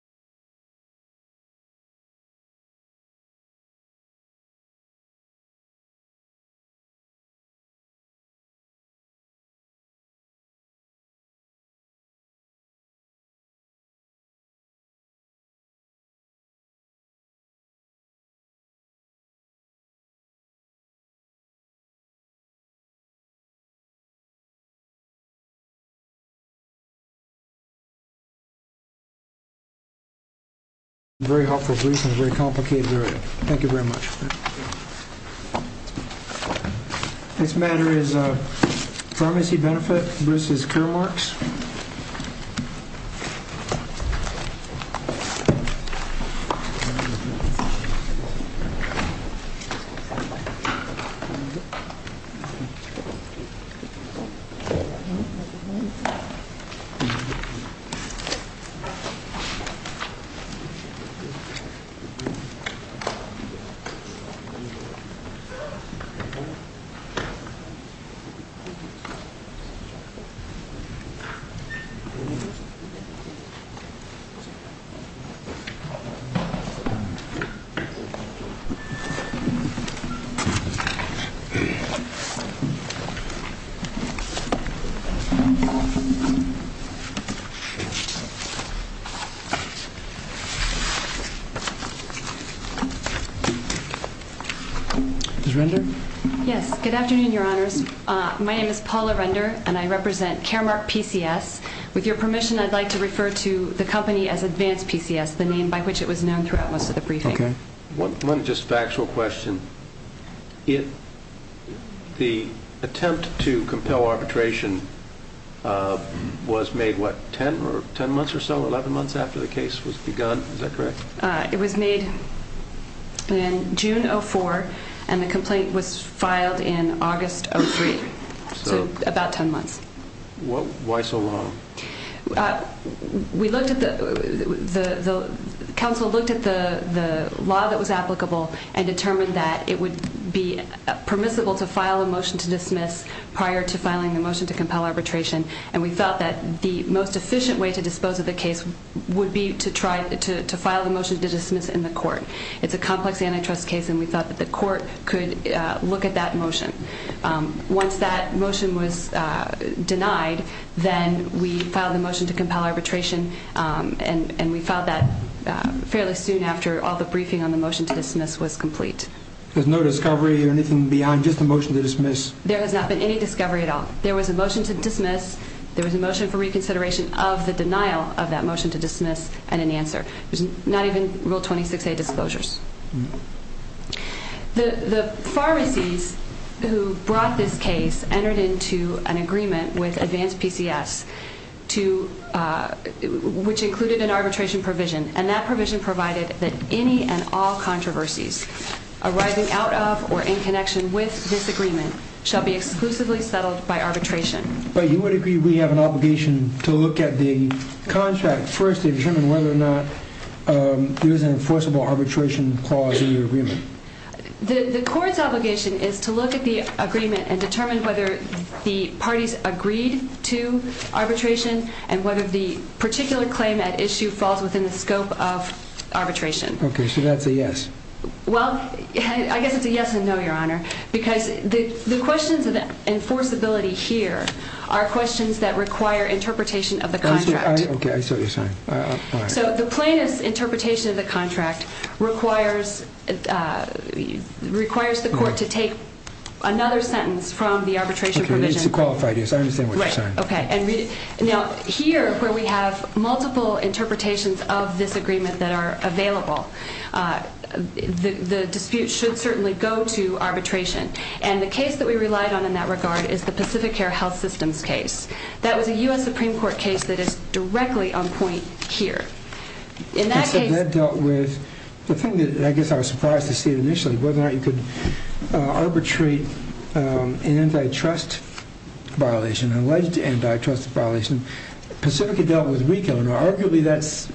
www.re-pharmacy.com Very helpful, Bruce, and a very complicated area. Thank you very much. This matter is Pharmacy Benefit. Bruce's Care Marks. www.re-pharmacy.com www.re-pharmacy.com One just factual question. The attempt to compel arbitration was made, what, 10 months or so, 11 months after the case was begun? Is that correct? It was made in June 2004, and the complaint was filed in August 2003. So about 10 months. Why so long? We looked at the, the council looked at the law that was applicable and determined that it would be permissible to file a motion to dismiss prior to filing the motion to compel arbitration, and we thought that the most efficient way to dispose of the case would be to try to file a motion to dismiss in the court. It's a complex antitrust case, and we thought that the court could look at that motion. Once that motion was denied, then we filed the motion to compel arbitration, and we filed that fairly soon after all the briefing on the motion to dismiss was complete. There's no discovery or anything beyond just a motion to dismiss? There has not been any discovery at all. There was a motion to dismiss, there was a motion for reconsideration of the denial of that motion to dismiss, and an answer. There's not even Rule 26A disclosures. The pharmacies who brought this case entered into an agreement with Advanced PCS to, which included an arbitration provision, and that provision provided that any and all controversies arising out of or in connection with this agreement shall be exclusively settled by arbitration. But you would agree we have an obligation to look at the contract first to determine whether or not there is an enforceable arbitration clause in the agreement? The court's obligation is to look at the agreement and determine whether the parties agreed to arbitration and whether the particular claim at issue falls within the scope of arbitration. Okay, so that's a yes? Well, I guess it's a yes and no, Your Honor, because the questions of enforceability here are questions that require interpretation of the contract. Okay, I see what you're saying. So the plaintiff's interpretation of the contract requires the court to take another sentence from the arbitration provision. Okay, it's a qualified yes, I understand what you're saying. Right, okay. Now, here, where we have multiple interpretations of this agreement that are available, the dispute should certainly go to arbitration. And the case that we relied on in that regard is the Pacific Care Health Systems case. That was a U.S. Supreme Court case that is directly on point here. The thing that I guess I was surprised to see initially, whether or not you could arbitrate an antitrust violation, an alleged antitrust violation, Pacifica dealt with RICO, and arguably that's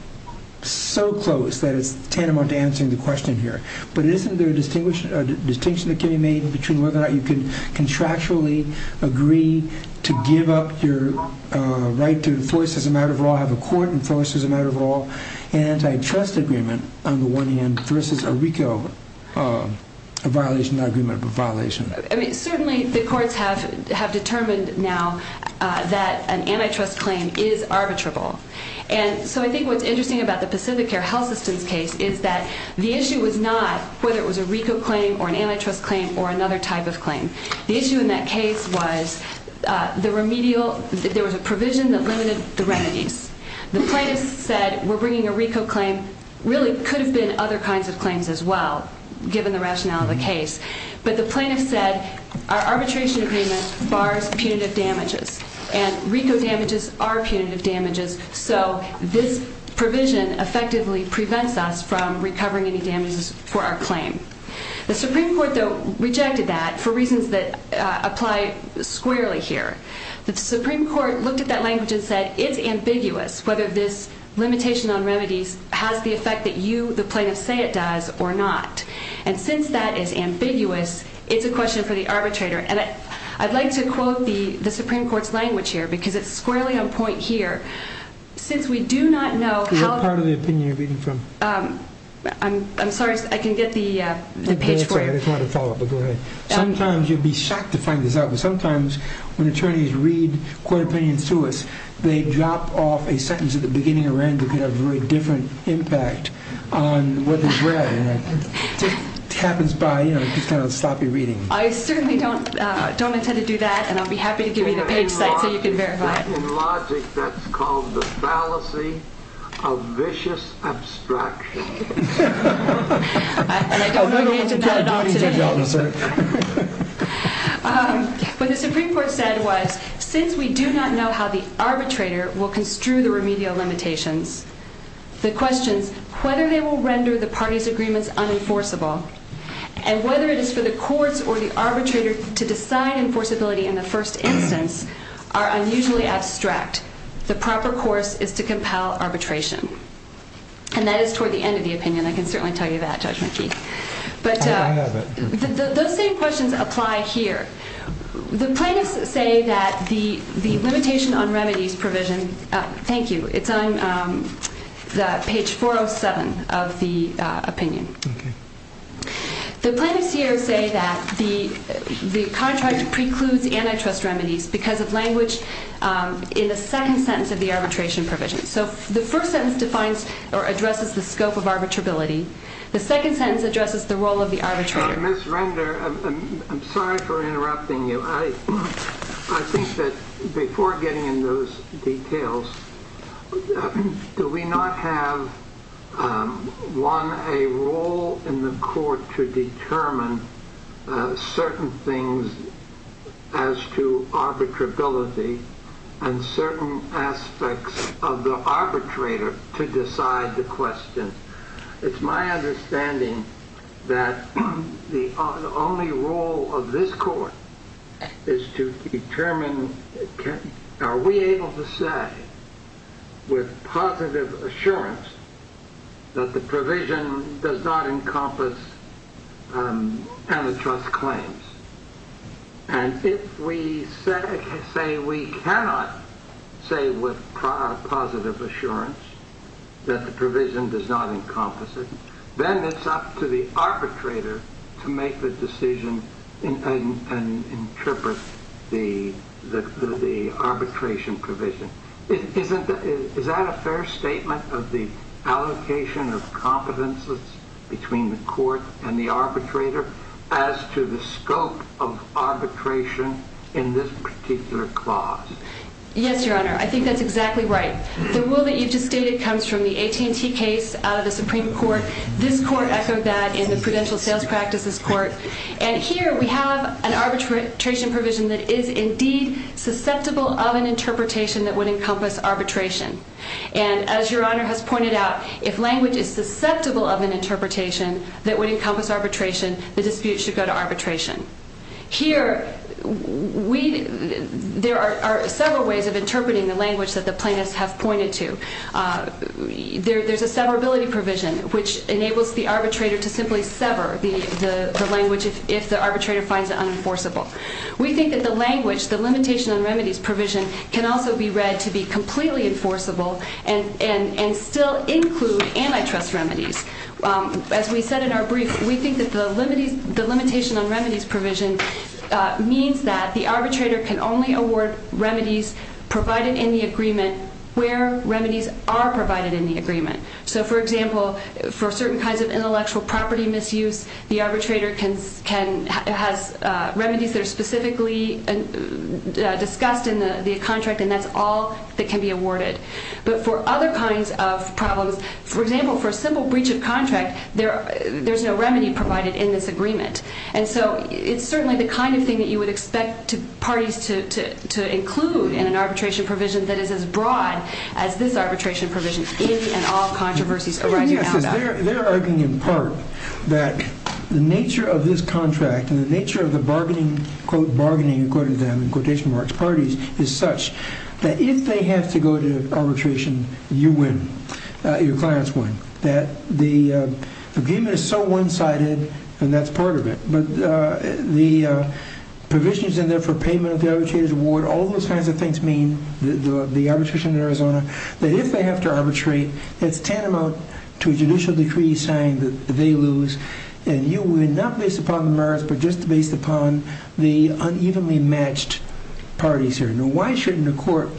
so close that it's tantamount to answering the question here. But isn't there a distinction that can be made between whether or not you can contractually agree to give up your right to enforce as a matter of law, have a court enforce as a matter of law, an antitrust agreement on the one hand versus a RICO violation, not agreement, but violation? I mean, certainly the courts have determined now that an antitrust claim is arbitrable. And so I think what's interesting about the Pacific Care Health Systems case is that the issue was not whether it was a RICO claim or an antitrust claim or another type of claim. The issue in that case was the remedial, there was a provision that limited the remedies. The plaintiffs said we're bringing a RICO claim, really could have been other kinds of claims as well, given the rationale of the case. But the plaintiffs said our arbitration agreement bars punitive damages, and RICO damages are punitive damages, so this provision effectively prevents us from recovering any damages for our claim. The Supreme Court, though, rejected that for reasons that apply squarely here. The Supreme Court looked at that language and said it's ambiguous whether this limitation on remedies has the effect that you, the plaintiffs, say it does or not. And since that is ambiguous, it's a question for the arbitrator. And I'd like to quote the Supreme Court's language here, because it's squarely on point here. Since we do not know how... What part of the opinion are you reading from? I'm sorry, I can get the page for you. It's not a follow-up, but go ahead. Sometimes you'd be shocked to find this out, but sometimes when attorneys read court opinions to us, they drop off a sentence at the beginning or end that could have a very different impact on what is read. It just happens by sloppy reading. I certainly don't intend to do that, and I'll be happy to give you the page site so you can verify it. In logic, that's called the fallacy of vicious abstraction. And I don't know the answer to that at all today. What the Supreme Court said was, since we do not know how the arbitrator will construe the remedial limitations, the questions whether they will render the parties' agreements unenforceable and whether it is for the courts or the arbitrator to decide enforceability in the first instance are unusually abstract. The proper course is to compel arbitration. And that is toward the end of the opinion. I can certainly tell you that, Judge McKee. But those same questions apply here. The plaintiffs say that the limitation on remedies provision, thank you, it's on page 407 of the opinion. The plaintiffs here say that the contract precludes antitrust remedies because of language in the second sentence of the arbitration provision. So the first sentence defines or addresses the scope of arbitrability. The second sentence addresses the role of the arbitrator. Ms. Render, I'm sorry for interrupting you. I think that before getting into those details, do we not have, one, a role in the court to determine certain things as to arbitrability and certain aspects of the arbitrator to decide the question? It's my understanding that the only role of this court is to determine, are we able to say with positive assurance that the provision does not encompass antitrust claims? And if we say we cannot say with positive assurance that the provision does not encompass it, then it's up to the arbitrator to make the decision and interpret the arbitration provision. Is that a fair statement of the allocation of competences between the court and the arbitrator as to the scope of arbitration in this particular clause? Yes, Your Honor. I think that's exactly right. The rule that you just stated comes from the AT&T case, the Supreme Court. This court echoed that in the Prudential Sales Practices Court. And here we have an arbitration provision that is indeed susceptible of an interpretation that would encompass arbitration. And as Your Honor has pointed out, if language is susceptible of an interpretation that would encompass arbitration, the dispute should go to arbitration. Here, there are several ways of interpreting the language that the plaintiffs have pointed to. There's a severability provision, which enables the arbitrator to simply sever the language if the arbitrator finds it unenforceable. We think that the language, the limitation on remedies provision, can also be read to be completely enforceable and still include antitrust remedies. As we said in our brief, we think that the limitation on remedies provision means that the arbitrator can only award remedies provided in the agreement where remedies are provided in the agreement. So, for example, for certain kinds of intellectual property misuse, the arbitrator has remedies that are specifically discussed in the contract, and that's all that can be awarded. But for other kinds of problems, for example, for a simple breach of contract, there's no remedy provided in this agreement. And so it's certainly the kind of thing that you would expect parties to include in an arbitration provision that is as broad as this arbitration provision in and all controversies arising out of that. Because they're arguing, in part, that the nature of this contract and the nature of the bargaining, quote, bargaining, according to them, in quotation marks, parties, is such that if they have to go to arbitration, you win. Your clients win. That the agreement is so one-sided, and that's part of it. But the provision is in there for payment of the arbitrator's award. All those kinds of things mean, the arbitration in Arizona, that if they have to arbitrate, it's tantamount to a judicial decree saying that they lose, and you win, not based upon the merits, but just based upon the unevenly matched parties here. Now, why shouldn't a court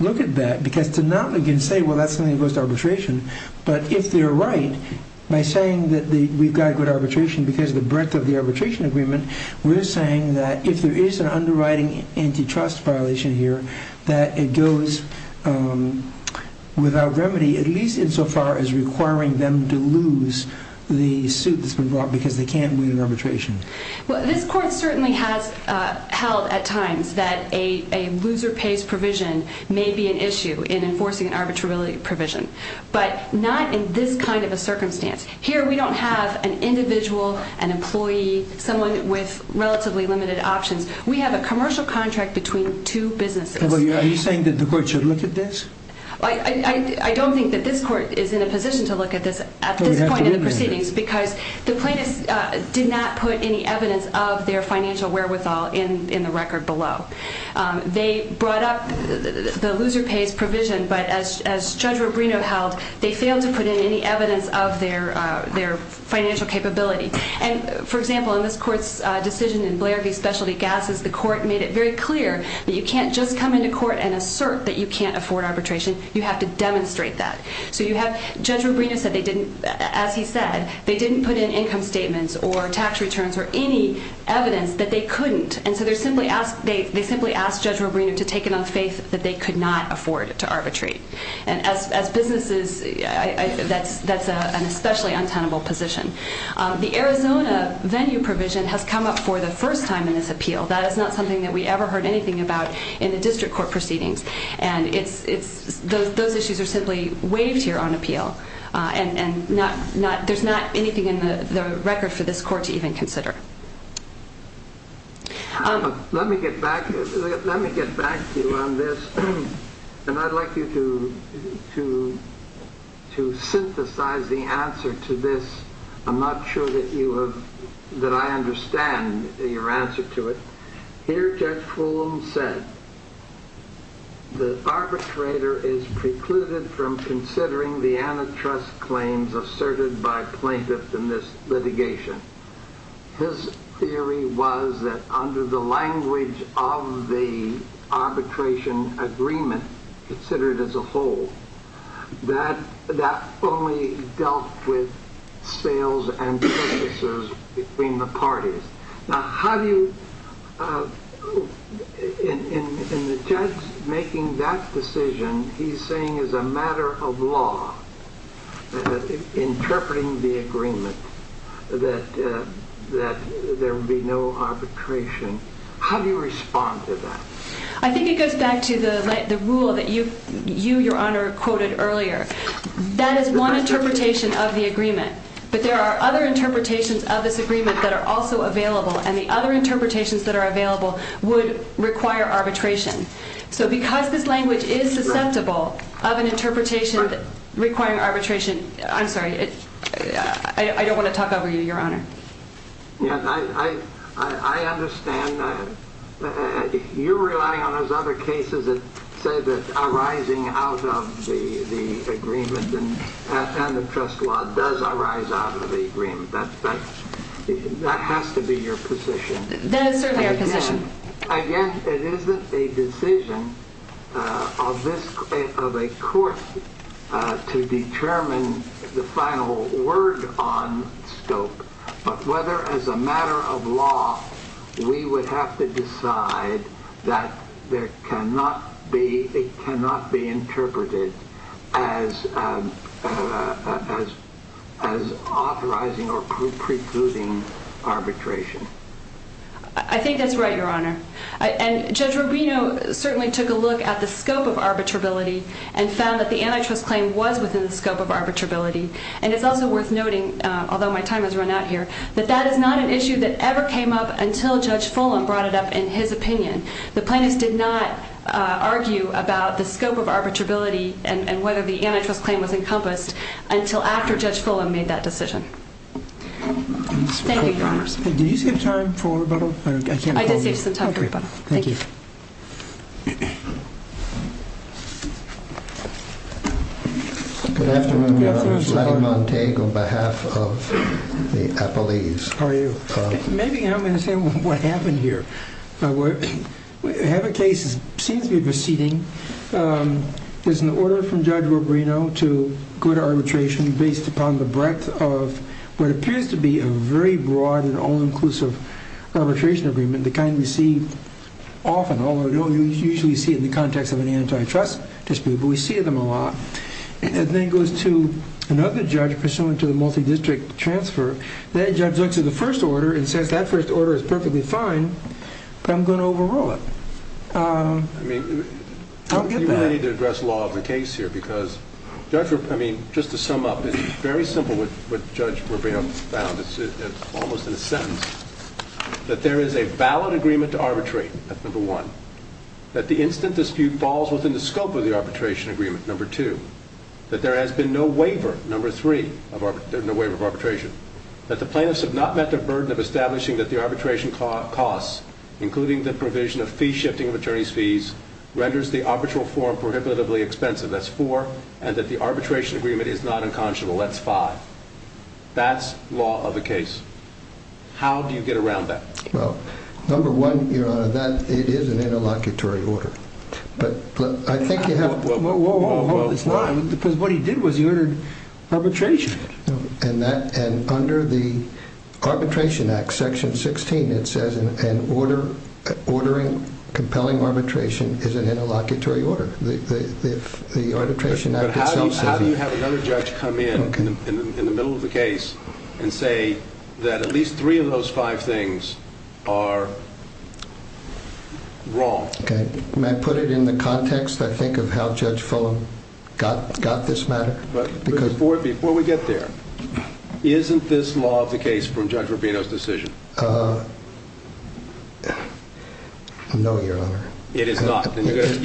look at that? Because to not again say, well, that's something that goes to arbitration. But if they're right, by saying that we've got good arbitration because of the breadth of the arbitration agreement, we're saying that if there is an underwriting antitrust violation here, that it goes without remedy, at least insofar as requiring them to lose the suit that's been brought because they can't win arbitration. Well, this court certainly has held at times that a loser-pays provision may be an issue in enforcing an arbitrarily provision. But not in this kind of a circumstance. Here, we don't have an individual, an employee, someone with relatively limited options. We have a commercial contract between two businesses. Are you saying that the court should look at this? I don't think that this court is in a position to look at this at this point in the proceedings, because the plaintiffs did not put any evidence of their financial wherewithal in the record below. They brought up the loser-pays provision, but as Judge Rubino held, they failed to put in any evidence of their financial capability. And, for example, in this court's decision in Blair v. Specialty Gases, the court made it very clear that you can't just come into court and assert that you can't afford arbitration. You have to demonstrate that. Judge Rubino said they didn't, as he said, they didn't put in income statements or tax returns or any evidence that they couldn't. And so they simply asked Judge Rubino to take it on faith that they could not afford to arbitrate. And as businesses, that's an especially untenable position. The Arizona venue provision has come up for the first time in this appeal. That is not something that we ever heard anything about in the district court proceedings. And those issues are simply waived here on appeal. And there's not anything in the record for this court to even consider. Let me get back to you on this. And I'd like you to synthesize the answer to this. I'm not sure that I understand your answer to it. Here, Judge Fulham said the arbitrator is precluded from considering the antitrust claims asserted by plaintiffs in this litigation. His theory was that under the language of the arbitration agreement considered as a whole, that that only dealt with sales and services between the parties. Now, how do you, in the judge making that decision, he's saying it's a matter of law, interpreting the agreement that there would be no arbitration. How do you respond to that? I think it goes back to the rule that you, Your Honor, quoted earlier. That is one interpretation of the agreement. But there are other interpretations of this agreement that are also available. And the other interpretations that are available would require arbitration. So because this language is susceptible of an interpretation requiring arbitration, I'm sorry, I don't want to talk over you, Your Honor. I understand that you're relying on those other cases that say that arising out of the agreement and antitrust law does arise out of the agreement. That has to be your position. Again, it isn't a decision of a court to determine the final word on scope. But whether as a matter of law, we would have to decide that it cannot be interpreted as authorizing or precluding arbitration. I think that's right, Your Honor. And Judge Rubino certainly took a look at the scope of arbitrability and found that the antitrust claim was within the scope of arbitrability. And it's also worth noting, although my time has run out here, that that is not an issue that ever came up until Judge Fulham brought it up in his opinion. The plaintiffs did not argue about the scope of arbitrability and whether the antitrust claim was encompassed until after Judge Fulham made that decision. Thank you, Your Honor. Did you save time for rebuttal? I did save some time for rebuttal. Thank you. Good afternoon, Your Honor. Good afternoon, Your Honor. Letty Montague on behalf of the Appellees. How are you? Maybe you can help me understand what happened here. I have a case that seems to be receding. There's an order from Judge Rubino to go to arbitration based upon the breadth of what appears to be a very broad and all-inclusive arbitration agreement, the kind we see often, although we don't usually see it in the context of an antitrust dispute, but we see them a lot. And then it goes to another judge pursuant to the multidistrict transfer. That judge looks at the first order and says, that first order is perfectly fine, but I'm going to overrule it. I don't get that. You may need to address law of the case here because, Judge Rubino, I mean, just to sum up, it's very simple what Judge Rubino found. It's almost in a sentence. That there is a valid agreement to arbitrate, that's number one. That the instant dispute falls within the scope of the arbitration agreement, number two. That there has been no waiver, number three, no waiver of arbitration. That the plaintiffs have not met the burden of establishing that the arbitration costs, including the provision of fee shifting of attorney's fees, renders the arbitral form prohibitively expensive. That's four. And that the arbitration agreement is not unconscionable. That's five. That's law of the case. How do you get around that? Well, number one, Your Honor, that is an interlocutory order. Whoa, whoa, whoa. Because what he did was he ordered arbitration. And under the Arbitration Act, Section 16, it says an ordering compelling arbitration is an interlocutory order. The Arbitration Act itself says that. But how do you have another judge come in, in the middle of the case, and say that at least three of those five things are wrong? Okay. May I put it in the context, I think, of how Judge Fulham got this matter? Before we get there, isn't this law of the case from Judge Rubino's decision? No, Your Honor. It is not. You need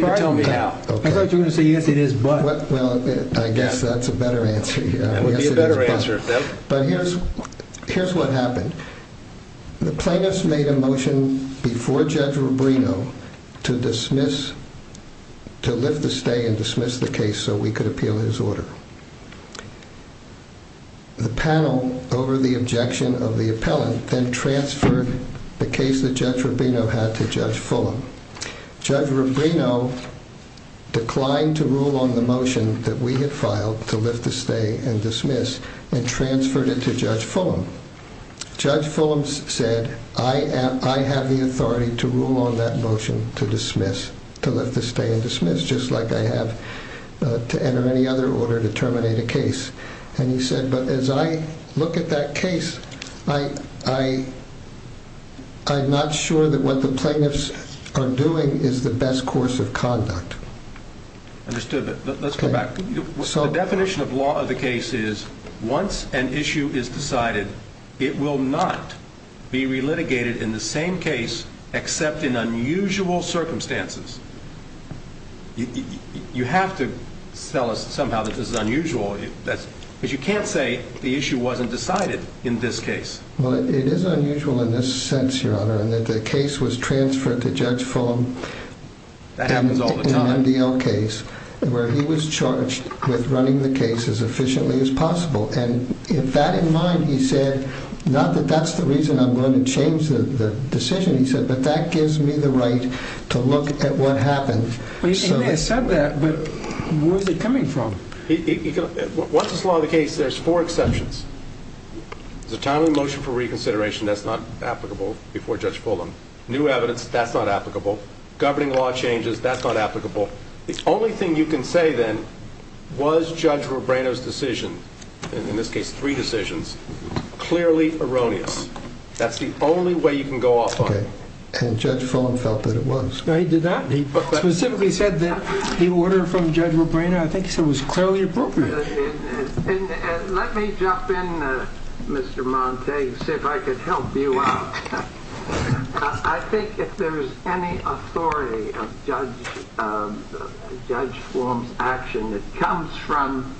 to tell me how. I thought you were going to say, yes, it is, but. Well, I guess that's a better answer. That would be a better answer. But here's what happened. The plaintiffs made a motion before Judge Rubino to dismiss, to lift the stay and dismiss the case so we could appeal his order. The panel, over the objection of the appellant, then transferred the case that Judge Rubino had to Judge Fulham. Judge Rubino declined to rule on the motion that we had filed to lift the stay and dismiss and transferred it to Judge Fulham. Judge Fulham said, I have the authority to rule on that motion to dismiss, to lift the stay and dismiss, just like I have to enter any other order to terminate a case. And he said, but as I look at that case, I'm not sure that what the plaintiffs are doing is the best course of conduct. Understood, but let's go back. The definition of law of the case is, once an issue is decided, it will not be relitigated in the same case except in unusual circumstances. You have to tell us somehow that this is unusual. Because you can't say the issue wasn't decided in this case. Well, it is unusual in this sense, Your Honor, in that the case was transferred to Judge Fulham. That happens all the time. He said, I'm going to change the MDL case where he was charged with running the case as efficiently as possible. And with that in mind, he said, not that that's the reason I'm going to change the decision, he said, but that gives me the right to look at what happened. He may have said that, but where is it coming from? Once it's law of the case, there's four exceptions. There's a timely motion for reconsideration. That's not applicable before Judge Fulham. New evidence, that's not applicable. Governing law changes, that's not applicable. The only thing you can say, then, was Judge Robreno's decision, in this case three decisions, clearly erroneous. That's the only way you can go off on it. And Judge Fulham felt that it was. No, he did not. He specifically said that the order from Judge Robreno, I think he said, was clearly appropriate. Let me jump in, Mr. Montague, and see if I can help you out. I think if there's any authority of Judge Fulham's action that comes from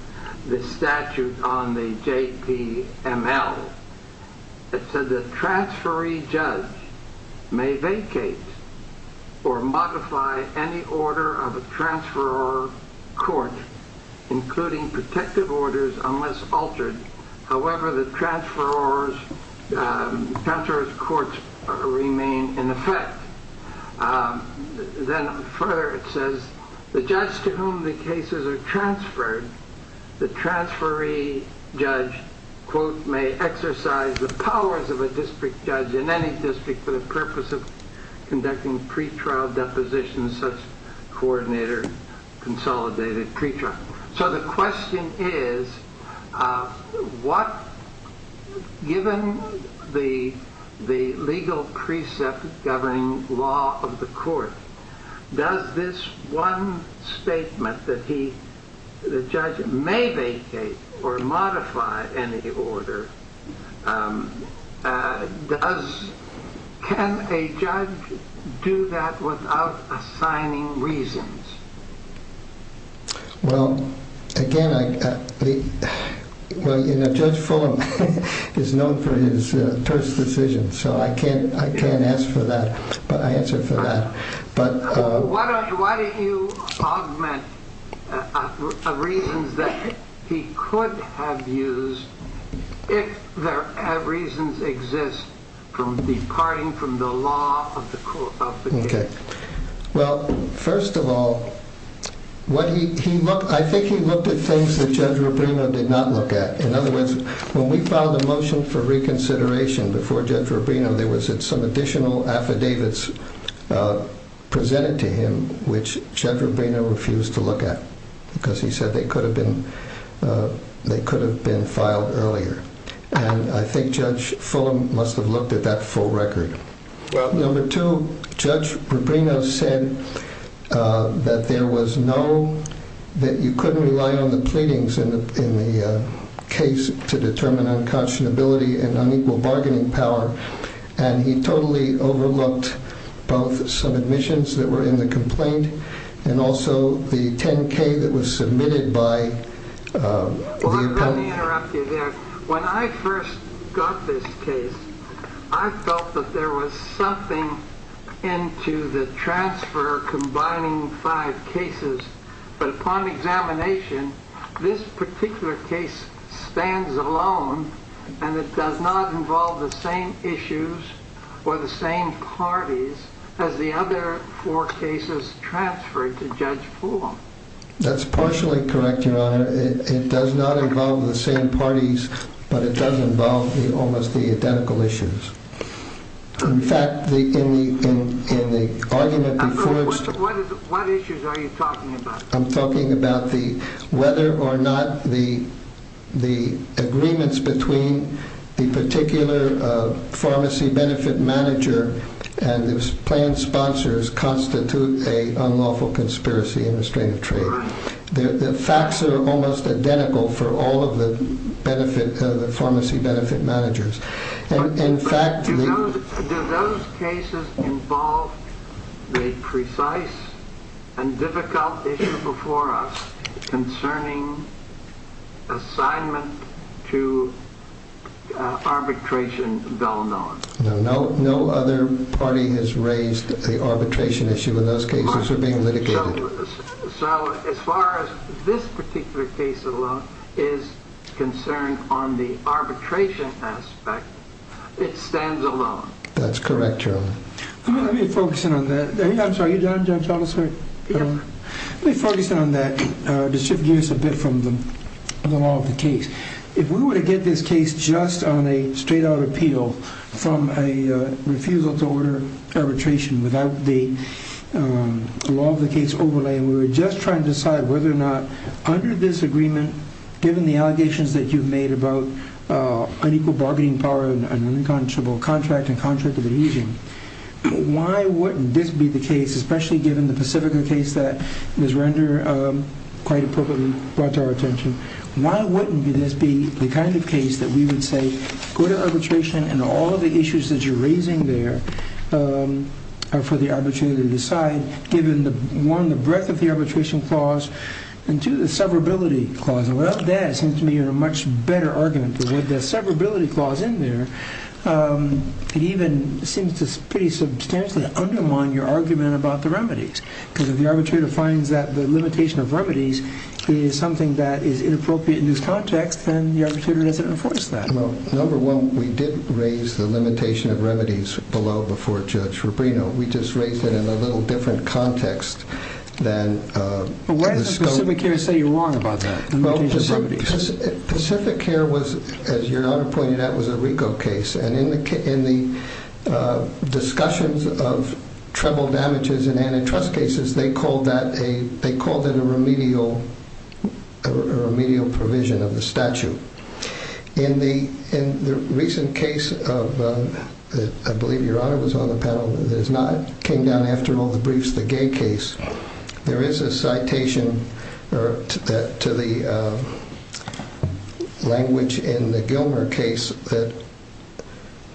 the statute on the JPML, it said the transferee judge may vacate or modify any order of a transferor court, including protective orders, unless altered. However, the transferor's courts remain in effect. Then further, it says, the judge to whom the cases are transferred, the transferee judge, quote, may exercise the powers of a district judge in any district for the purpose of conducting pretrial depositions, such coordinator consolidated pretrial. So the question is, given the legal precept governing law of the court, does this one statement that the judge may vacate or modify any order, can a judge do that without assigning reasons? Well, again, Judge Fulham is known for his terse decisions, so I can't ask for that, but I answer for that. Why don't you augment reasons that he could have used if there are reasons exist from departing from the law of the case? Okay. Well, first of all, I think he looked at things that Judge Rubino did not look at. In other words, when we filed a motion for reconsideration before Judge Rubino, there was some additional affidavits presented to him, which Judge Rubino refused to look at, because he said they could have been filed earlier. And I think Judge Fulham must have looked at that full record. Well, number two, Judge Rubino said that there was no, that you couldn't rely on the pleadings in the case to determine unconscionability and unequal bargaining power. And he totally overlooked both some admissions that were in the complaint and also the 10K that was submitted by the opponent. When I first got this case, I felt that there was something into the transfer combining five cases. But upon examination, this particular case stands alone, and it does not involve the same issues or the same parties as the other four cases transferred to Judge Fulham. That's partially correct, Your Honor. It does not involve the same parties, but it does involve almost the identical issues. In fact, in the argument... What issues are you talking about? I'm talking about whether or not the agreements between the particular pharmacy benefit manager and the planned sponsors constitute an unlawful conspiracy in restrictive trade. The facts are almost identical for all of the pharmacy benefit managers. In fact... Do those cases involve the precise and difficult issue before us concerning assignment to arbitration of Illinois? No, no other party has raised the arbitration issue, and those cases are being litigated. So as far as this particular case alone is concerned on the arbitration aspect, it stands alone? That's correct, Your Honor. Let me focus in on that. I'm sorry, are you done, Judge Fulham? Yes. Let me focus in on that, just to give us a bit from the law of the case. If we were to get this case just on a straight-out appeal, from a refusal to order arbitration without the law of the case overlay, and we were just trying to decide whether or not, under this agreement, given the allegations that you've made about unequal bargaining power and an unconscionable contract and contract of adhesion, why wouldn't this be the case, especially given the Pacifica case that Ms. Render quite appropriately brought to our attention, why wouldn't this be the kind of case that we would say, go to arbitration and all of the issues that you're raising there are for the arbitrator to decide, given one, the breadth of the arbitration clause, and two, the severability clause. Without that, it seems to me a much better argument. Without the severability clause in there, it even seems to pretty substantially undermine your argument about the remedies, because if the arbitrator finds that the limitation of remedies is something that is inappropriate in this context, then the arbitrator doesn't enforce that. Well, number one, we didn't raise the limitation of remedies below before Judge Rubino. We just raised it in a little different context than the scope. But why does Pacificare say you're wrong about that, the limitation of remedies? Pacificare was, as your Honor pointed out, was a RICO case, and in the discussions of treble damages in antitrust cases, they called it a remedial provision of the statute. In the recent case of, I believe your Honor was on the panel, that came down after all the briefs, the Gay case, there is a citation to the language in the Gilmer case that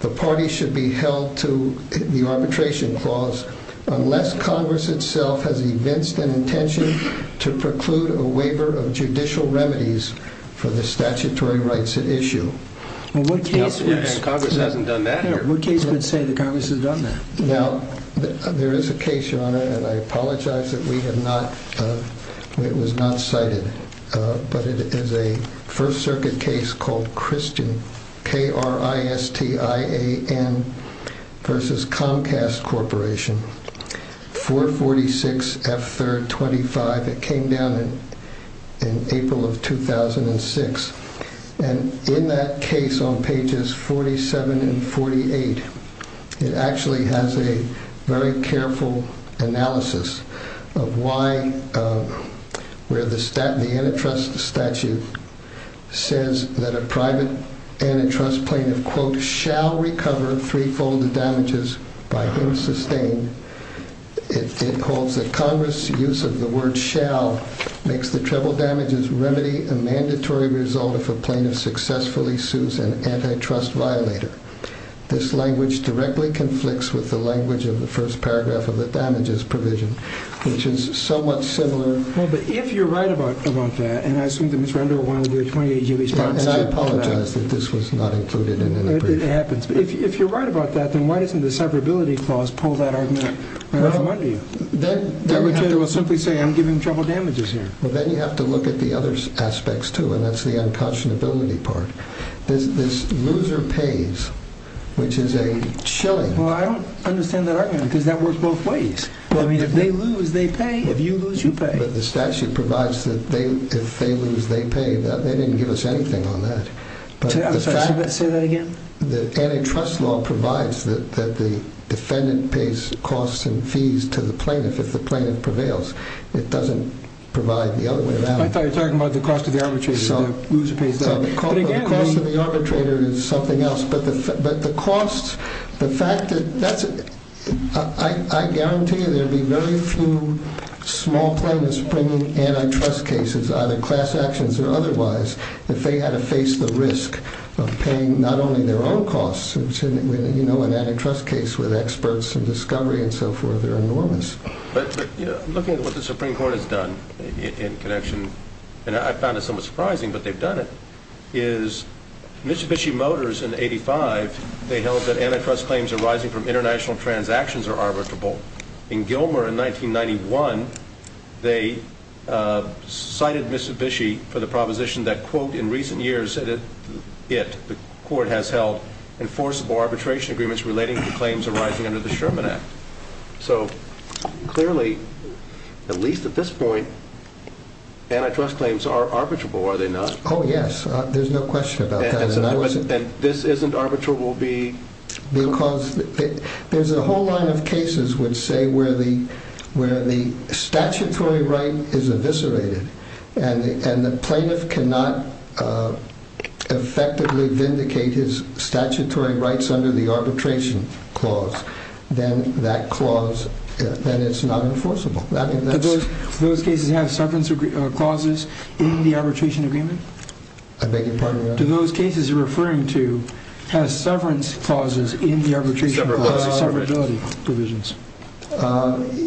the party should be held to the arbitration clause unless Congress itself has evinced an intention to preclude a waiver of judicial remedies for the statutory rights at issue. And Congress hasn't done that here. What case would say that Congress has done that? Now, there is a case, your Honor, and I apologize that it was not cited, but it is a First Circuit case called Christian, K-R-I-S-T-I-A-N, versus Comcast Corporation, 446F325. It came down in April of 2006. And in that case on pages 47 and 48, it actually has a very careful analysis of why, where the antitrust statute says that a private antitrust plaintiff quote, shall recover threefold the damages by him sustained. It holds that Congress' use of the word shall makes the treble damages remedy a mandatory result if a plaintiff successfully sues an antitrust violator. This language directly conflicts with the language of the first paragraph of the damages provision, which is somewhat similar. Well, but if you're right about that, and I assume that Ms. Render will want to do a 28-year response to that. And I apologize that this was not included in the brief. It happens. But if you're right about that, then why doesn't the severability clause pull that argument right off of under you? Well, then you have to look at the other aspects too, and that's the unconscionability part. This loser pays, which is a chilling... Well, I don't understand that argument because that works both ways. Well, I mean, if they lose, they pay. If you lose, you pay. But the statute provides that if they lose, they pay. They didn't give us anything on that. I'm sorry, say that again? The antitrust law provides that the defendant pays costs and fees to the plaintiff if the plaintiff prevails. It doesn't provide the other way around. I thought you were talking about the cost of the arbitrator. The loser pays that. The cost of the arbitrator is something else. But the cost, the fact that that's... I guarantee you there'd be very few small plaintiffs bringing antitrust cases, either class actions or otherwise, if they had to face the risk of paying not only their own costs, which in an antitrust case with experts and discovery and so forth, they're enormous. But looking at what the Supreme Court has done in connection, and I found it somewhat surprising, but they've done it, is Mitsubishi Motors in 1985, they held that antitrust claims arising from international transactions are arbitrable. In Gilmer in 1991, they cited Mitsubishi for the proposition that, quote, in recent years, it, the court has held, enforceable arbitration agreements relating to claims arising under the Sherman Act. So clearly, at least at this point, antitrust claims are arbitrable, are they not? Oh, yes, there's no question about that. And this isn't arbitrable because... Because there's a whole line of cases which say where the statutory right is eviscerated, and the plaintiff cannot effectively vindicate his statutory rights under the arbitration clause, then that clause, then it's not enforceable. Do those cases have severance clauses in the arbitration agreement? I beg your pardon? Do those cases you're referring to have severance clauses in the arbitration clauses, severability provisions?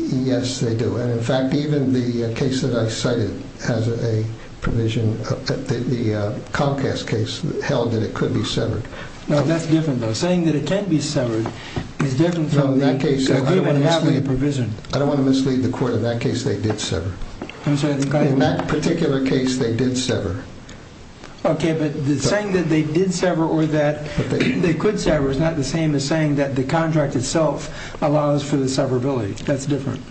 Yes, they do. And, in fact, even the case that I cited has a provision, the Comcast case held that it could be severed. Now, that's different, though. Saying that it can be severed is different from... No, in that case, I don't want to mislead... No, in that case, they did sever. I'm sorry, I think I... In that particular case, they did sever. Okay, but saying that they did sever or that they could sever is not the same as saying that the contract itself allows for the severability. That's different.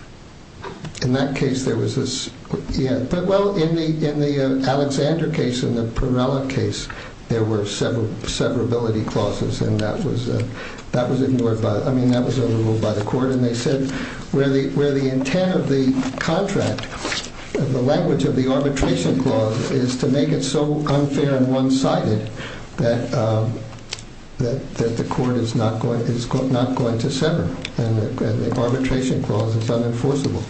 In that case, there was this... But, well, in the Alexander case and the Perella case, there were severability clauses, and that was ignored by... I mean, that was overruled by the court, and they said where the intent of the contract, the language of the arbitration clause, is to make it so unfair and one-sided that the court is not going to sever, and the arbitration clause is unenforceable.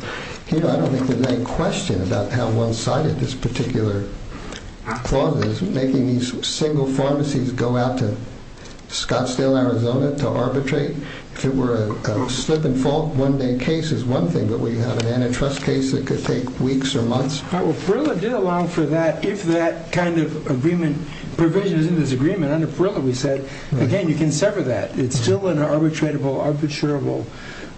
Here, I don't think there's any question about how one-sided this particular clause is, making these single pharmacies go out to Scottsdale, Arizona, to arbitrate. If it were a slip-and-fall one-day case is one thing, but we have an antitrust case that could take weeks or months. All right, well, Perilla did allow for that if that kind of agreement provision is in this agreement. Under Perilla, we said, again, you can sever that. It's still an arbitratable, arbitrable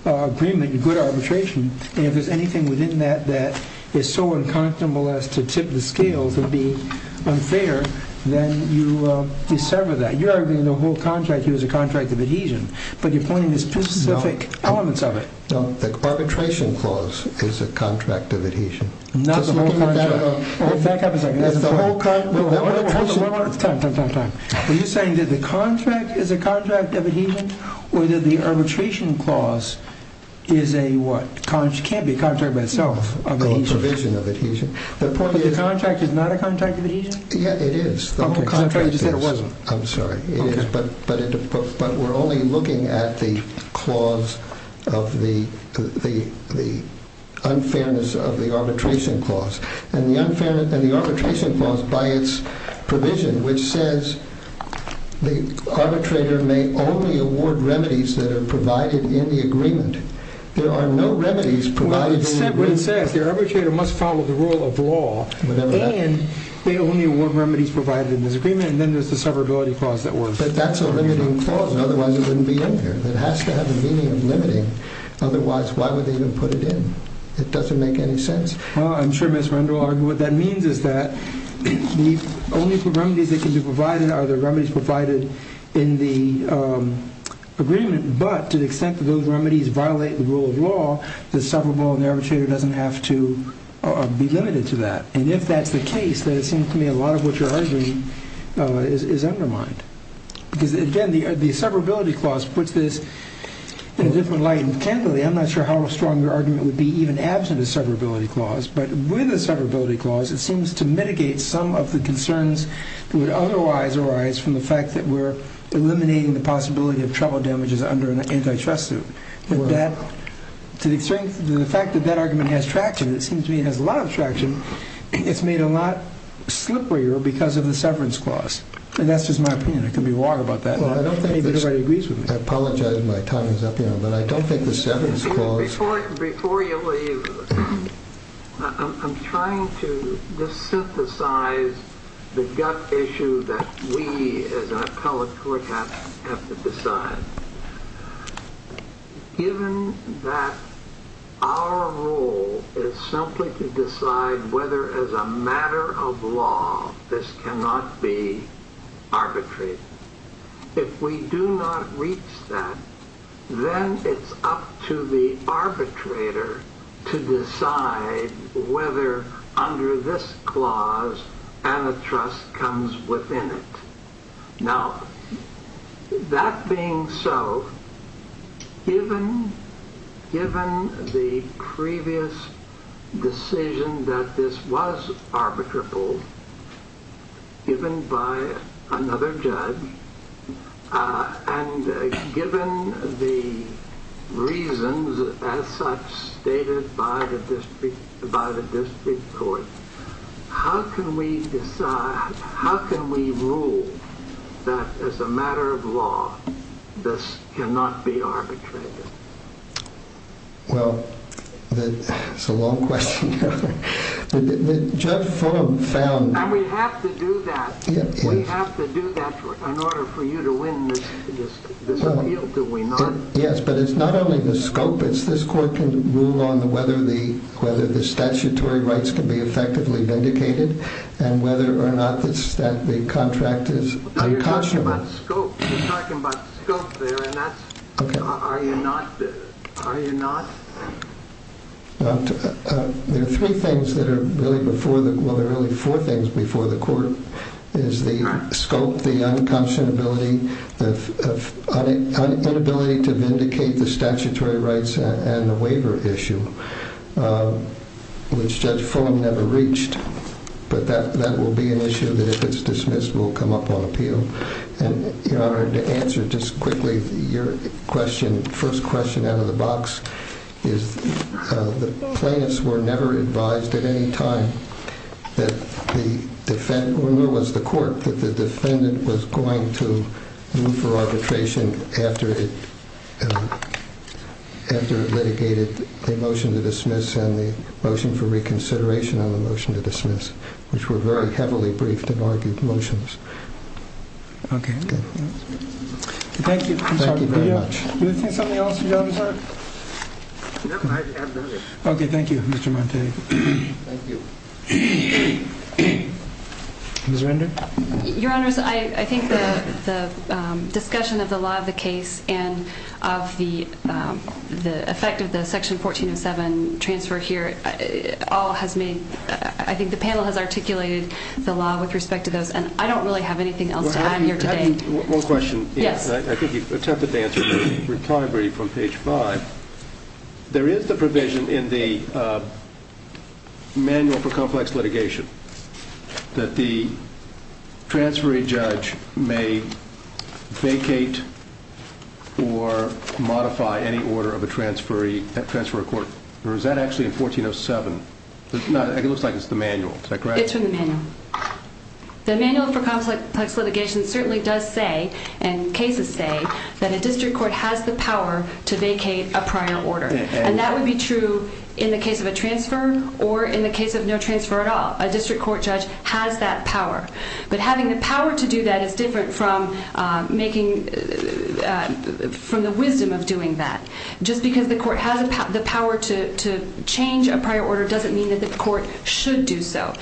agreement, a good arbitration, and if there's anything within that that is so unconscionable as to tip the scales and be unfair, then you sever that. You're arguing the whole contract here is a contract of adhesion, but you're pointing to specific elements of it. No, the arbitration clause is a contract of adhesion. Not the whole contract. Back up a second. Time, time, time, time. Are you saying that the contract is a contract of adhesion or that the arbitration clause is a what? It can't be a contract by itself of adhesion. A provision of adhesion. The contract is not a contract of adhesion? Yeah, it is. The whole contract is. You said it wasn't. I'm sorry. But we're only looking at the clause of the unfairness of the arbitration clause. And the arbitration clause, by its provision, which says the arbitrator may only award remedies that are provided in the agreement. There are no remedies provided in the agreement. Well, it says the arbitrator must follow the rule of law and they only award remedies provided in this agreement, and then there's the severability clause that works. But that's a limiting clause. Otherwise, it wouldn't be in here. It has to have the meaning of limiting. Otherwise, why would they even put it in? It doesn't make any sense. Well, I'm sure Ms. Render will argue what that means is that the only remedies that can be provided are the remedies provided in the agreement, but to the extent that those remedies violate the rule of law, the severable and the arbitrator doesn't have to be limited to that. And if that's the case, then it seems to me a lot of what you're arguing is undermined. Because, again, the severability clause puts this in a different light. Intentionally, I'm not sure how strong your argument would be even absent of severability clause. But with the severability clause, it seems to mitigate some of the concerns that would otherwise arise from the fact that we're eliminating the possibility of trouble damages under an antitrust suit. To the extent that the fact that that argument has traction, it seems to me it has a lot of traction, it's made a lot slipperier because of the severance clause. And that's just my opinion. I can be wrong about that. I don't think anybody agrees with me. I apologize if my time is up here, but I don't think the severance clause... Before you leave, I'm trying to just synthesize the gut issue that we as an appellate court have to decide. Given that our role is simply to decide whether as a matter of law this cannot be arbitrated, if we do not reach that, then it's up to the arbitrator to decide whether under this clause antitrust comes within it. Now, that being so, given the previous decision that this was arbitrable, given by another judge, and given the reasons as such stated by the district court, how can we decide, how can we rule that as a matter of law this cannot be arbitrated? Well, that's a long question. Judge Fulham found... And we have to do that. We have to do that in order for you to win this appeal, do we not? Yes, but it's not only the scope. This court can rule on whether the statutory rights can be effectively vindicated and whether or not the contract is unconscionable. You're talking about scope there, and that's... Are you not? There are three things that are really before the... Well, there are really four things before the court. There's the scope, the unconscionability, the inability to vindicate the statutory rights and the waiver issue, which Judge Fulham never reached. But that will be an issue that, if it's dismissed, will come up on appeal. And, Your Honor, to answer just quickly your question, first question out of the box is the plaintiffs were never advised at any time that the defendant was going to move for arbitration after it litigated the motion to dismiss and the motion for reconsideration on the motion to dismiss, which were very heavily briefed and argued motions. Okay. Thank you. Thank you very much. Do you have something else, Your Honor? No, I have nothing. Okay, thank you, Mr. Montague. Thank you. Ms. Render? Your Honors, I think the discussion of the law of the case and of the effect of the Section 1407 transfer here all has made... I think the panel has articulated the law with respect to those, and I don't really have anything else to add here today. One question. Yes. I think you've attempted to answer in the recovery from page 5. There is the provision in the Manual for Complex Litigation that the transferee judge may vacate or modify any order of a transferee court. Or is that actually in 1407? It looks like it's the manual. It's in the manual. The Manual for Complex Litigation certainly does say, and cases say, that a district court has the power to vacate a prior order. And that would be true in the case of a transfer or in the case of no transfer at all. A district court judge has that power. But having the power to do that is different from the wisdom of doing that. Just because the court has the power to change a prior order doesn't mean that the court should do so.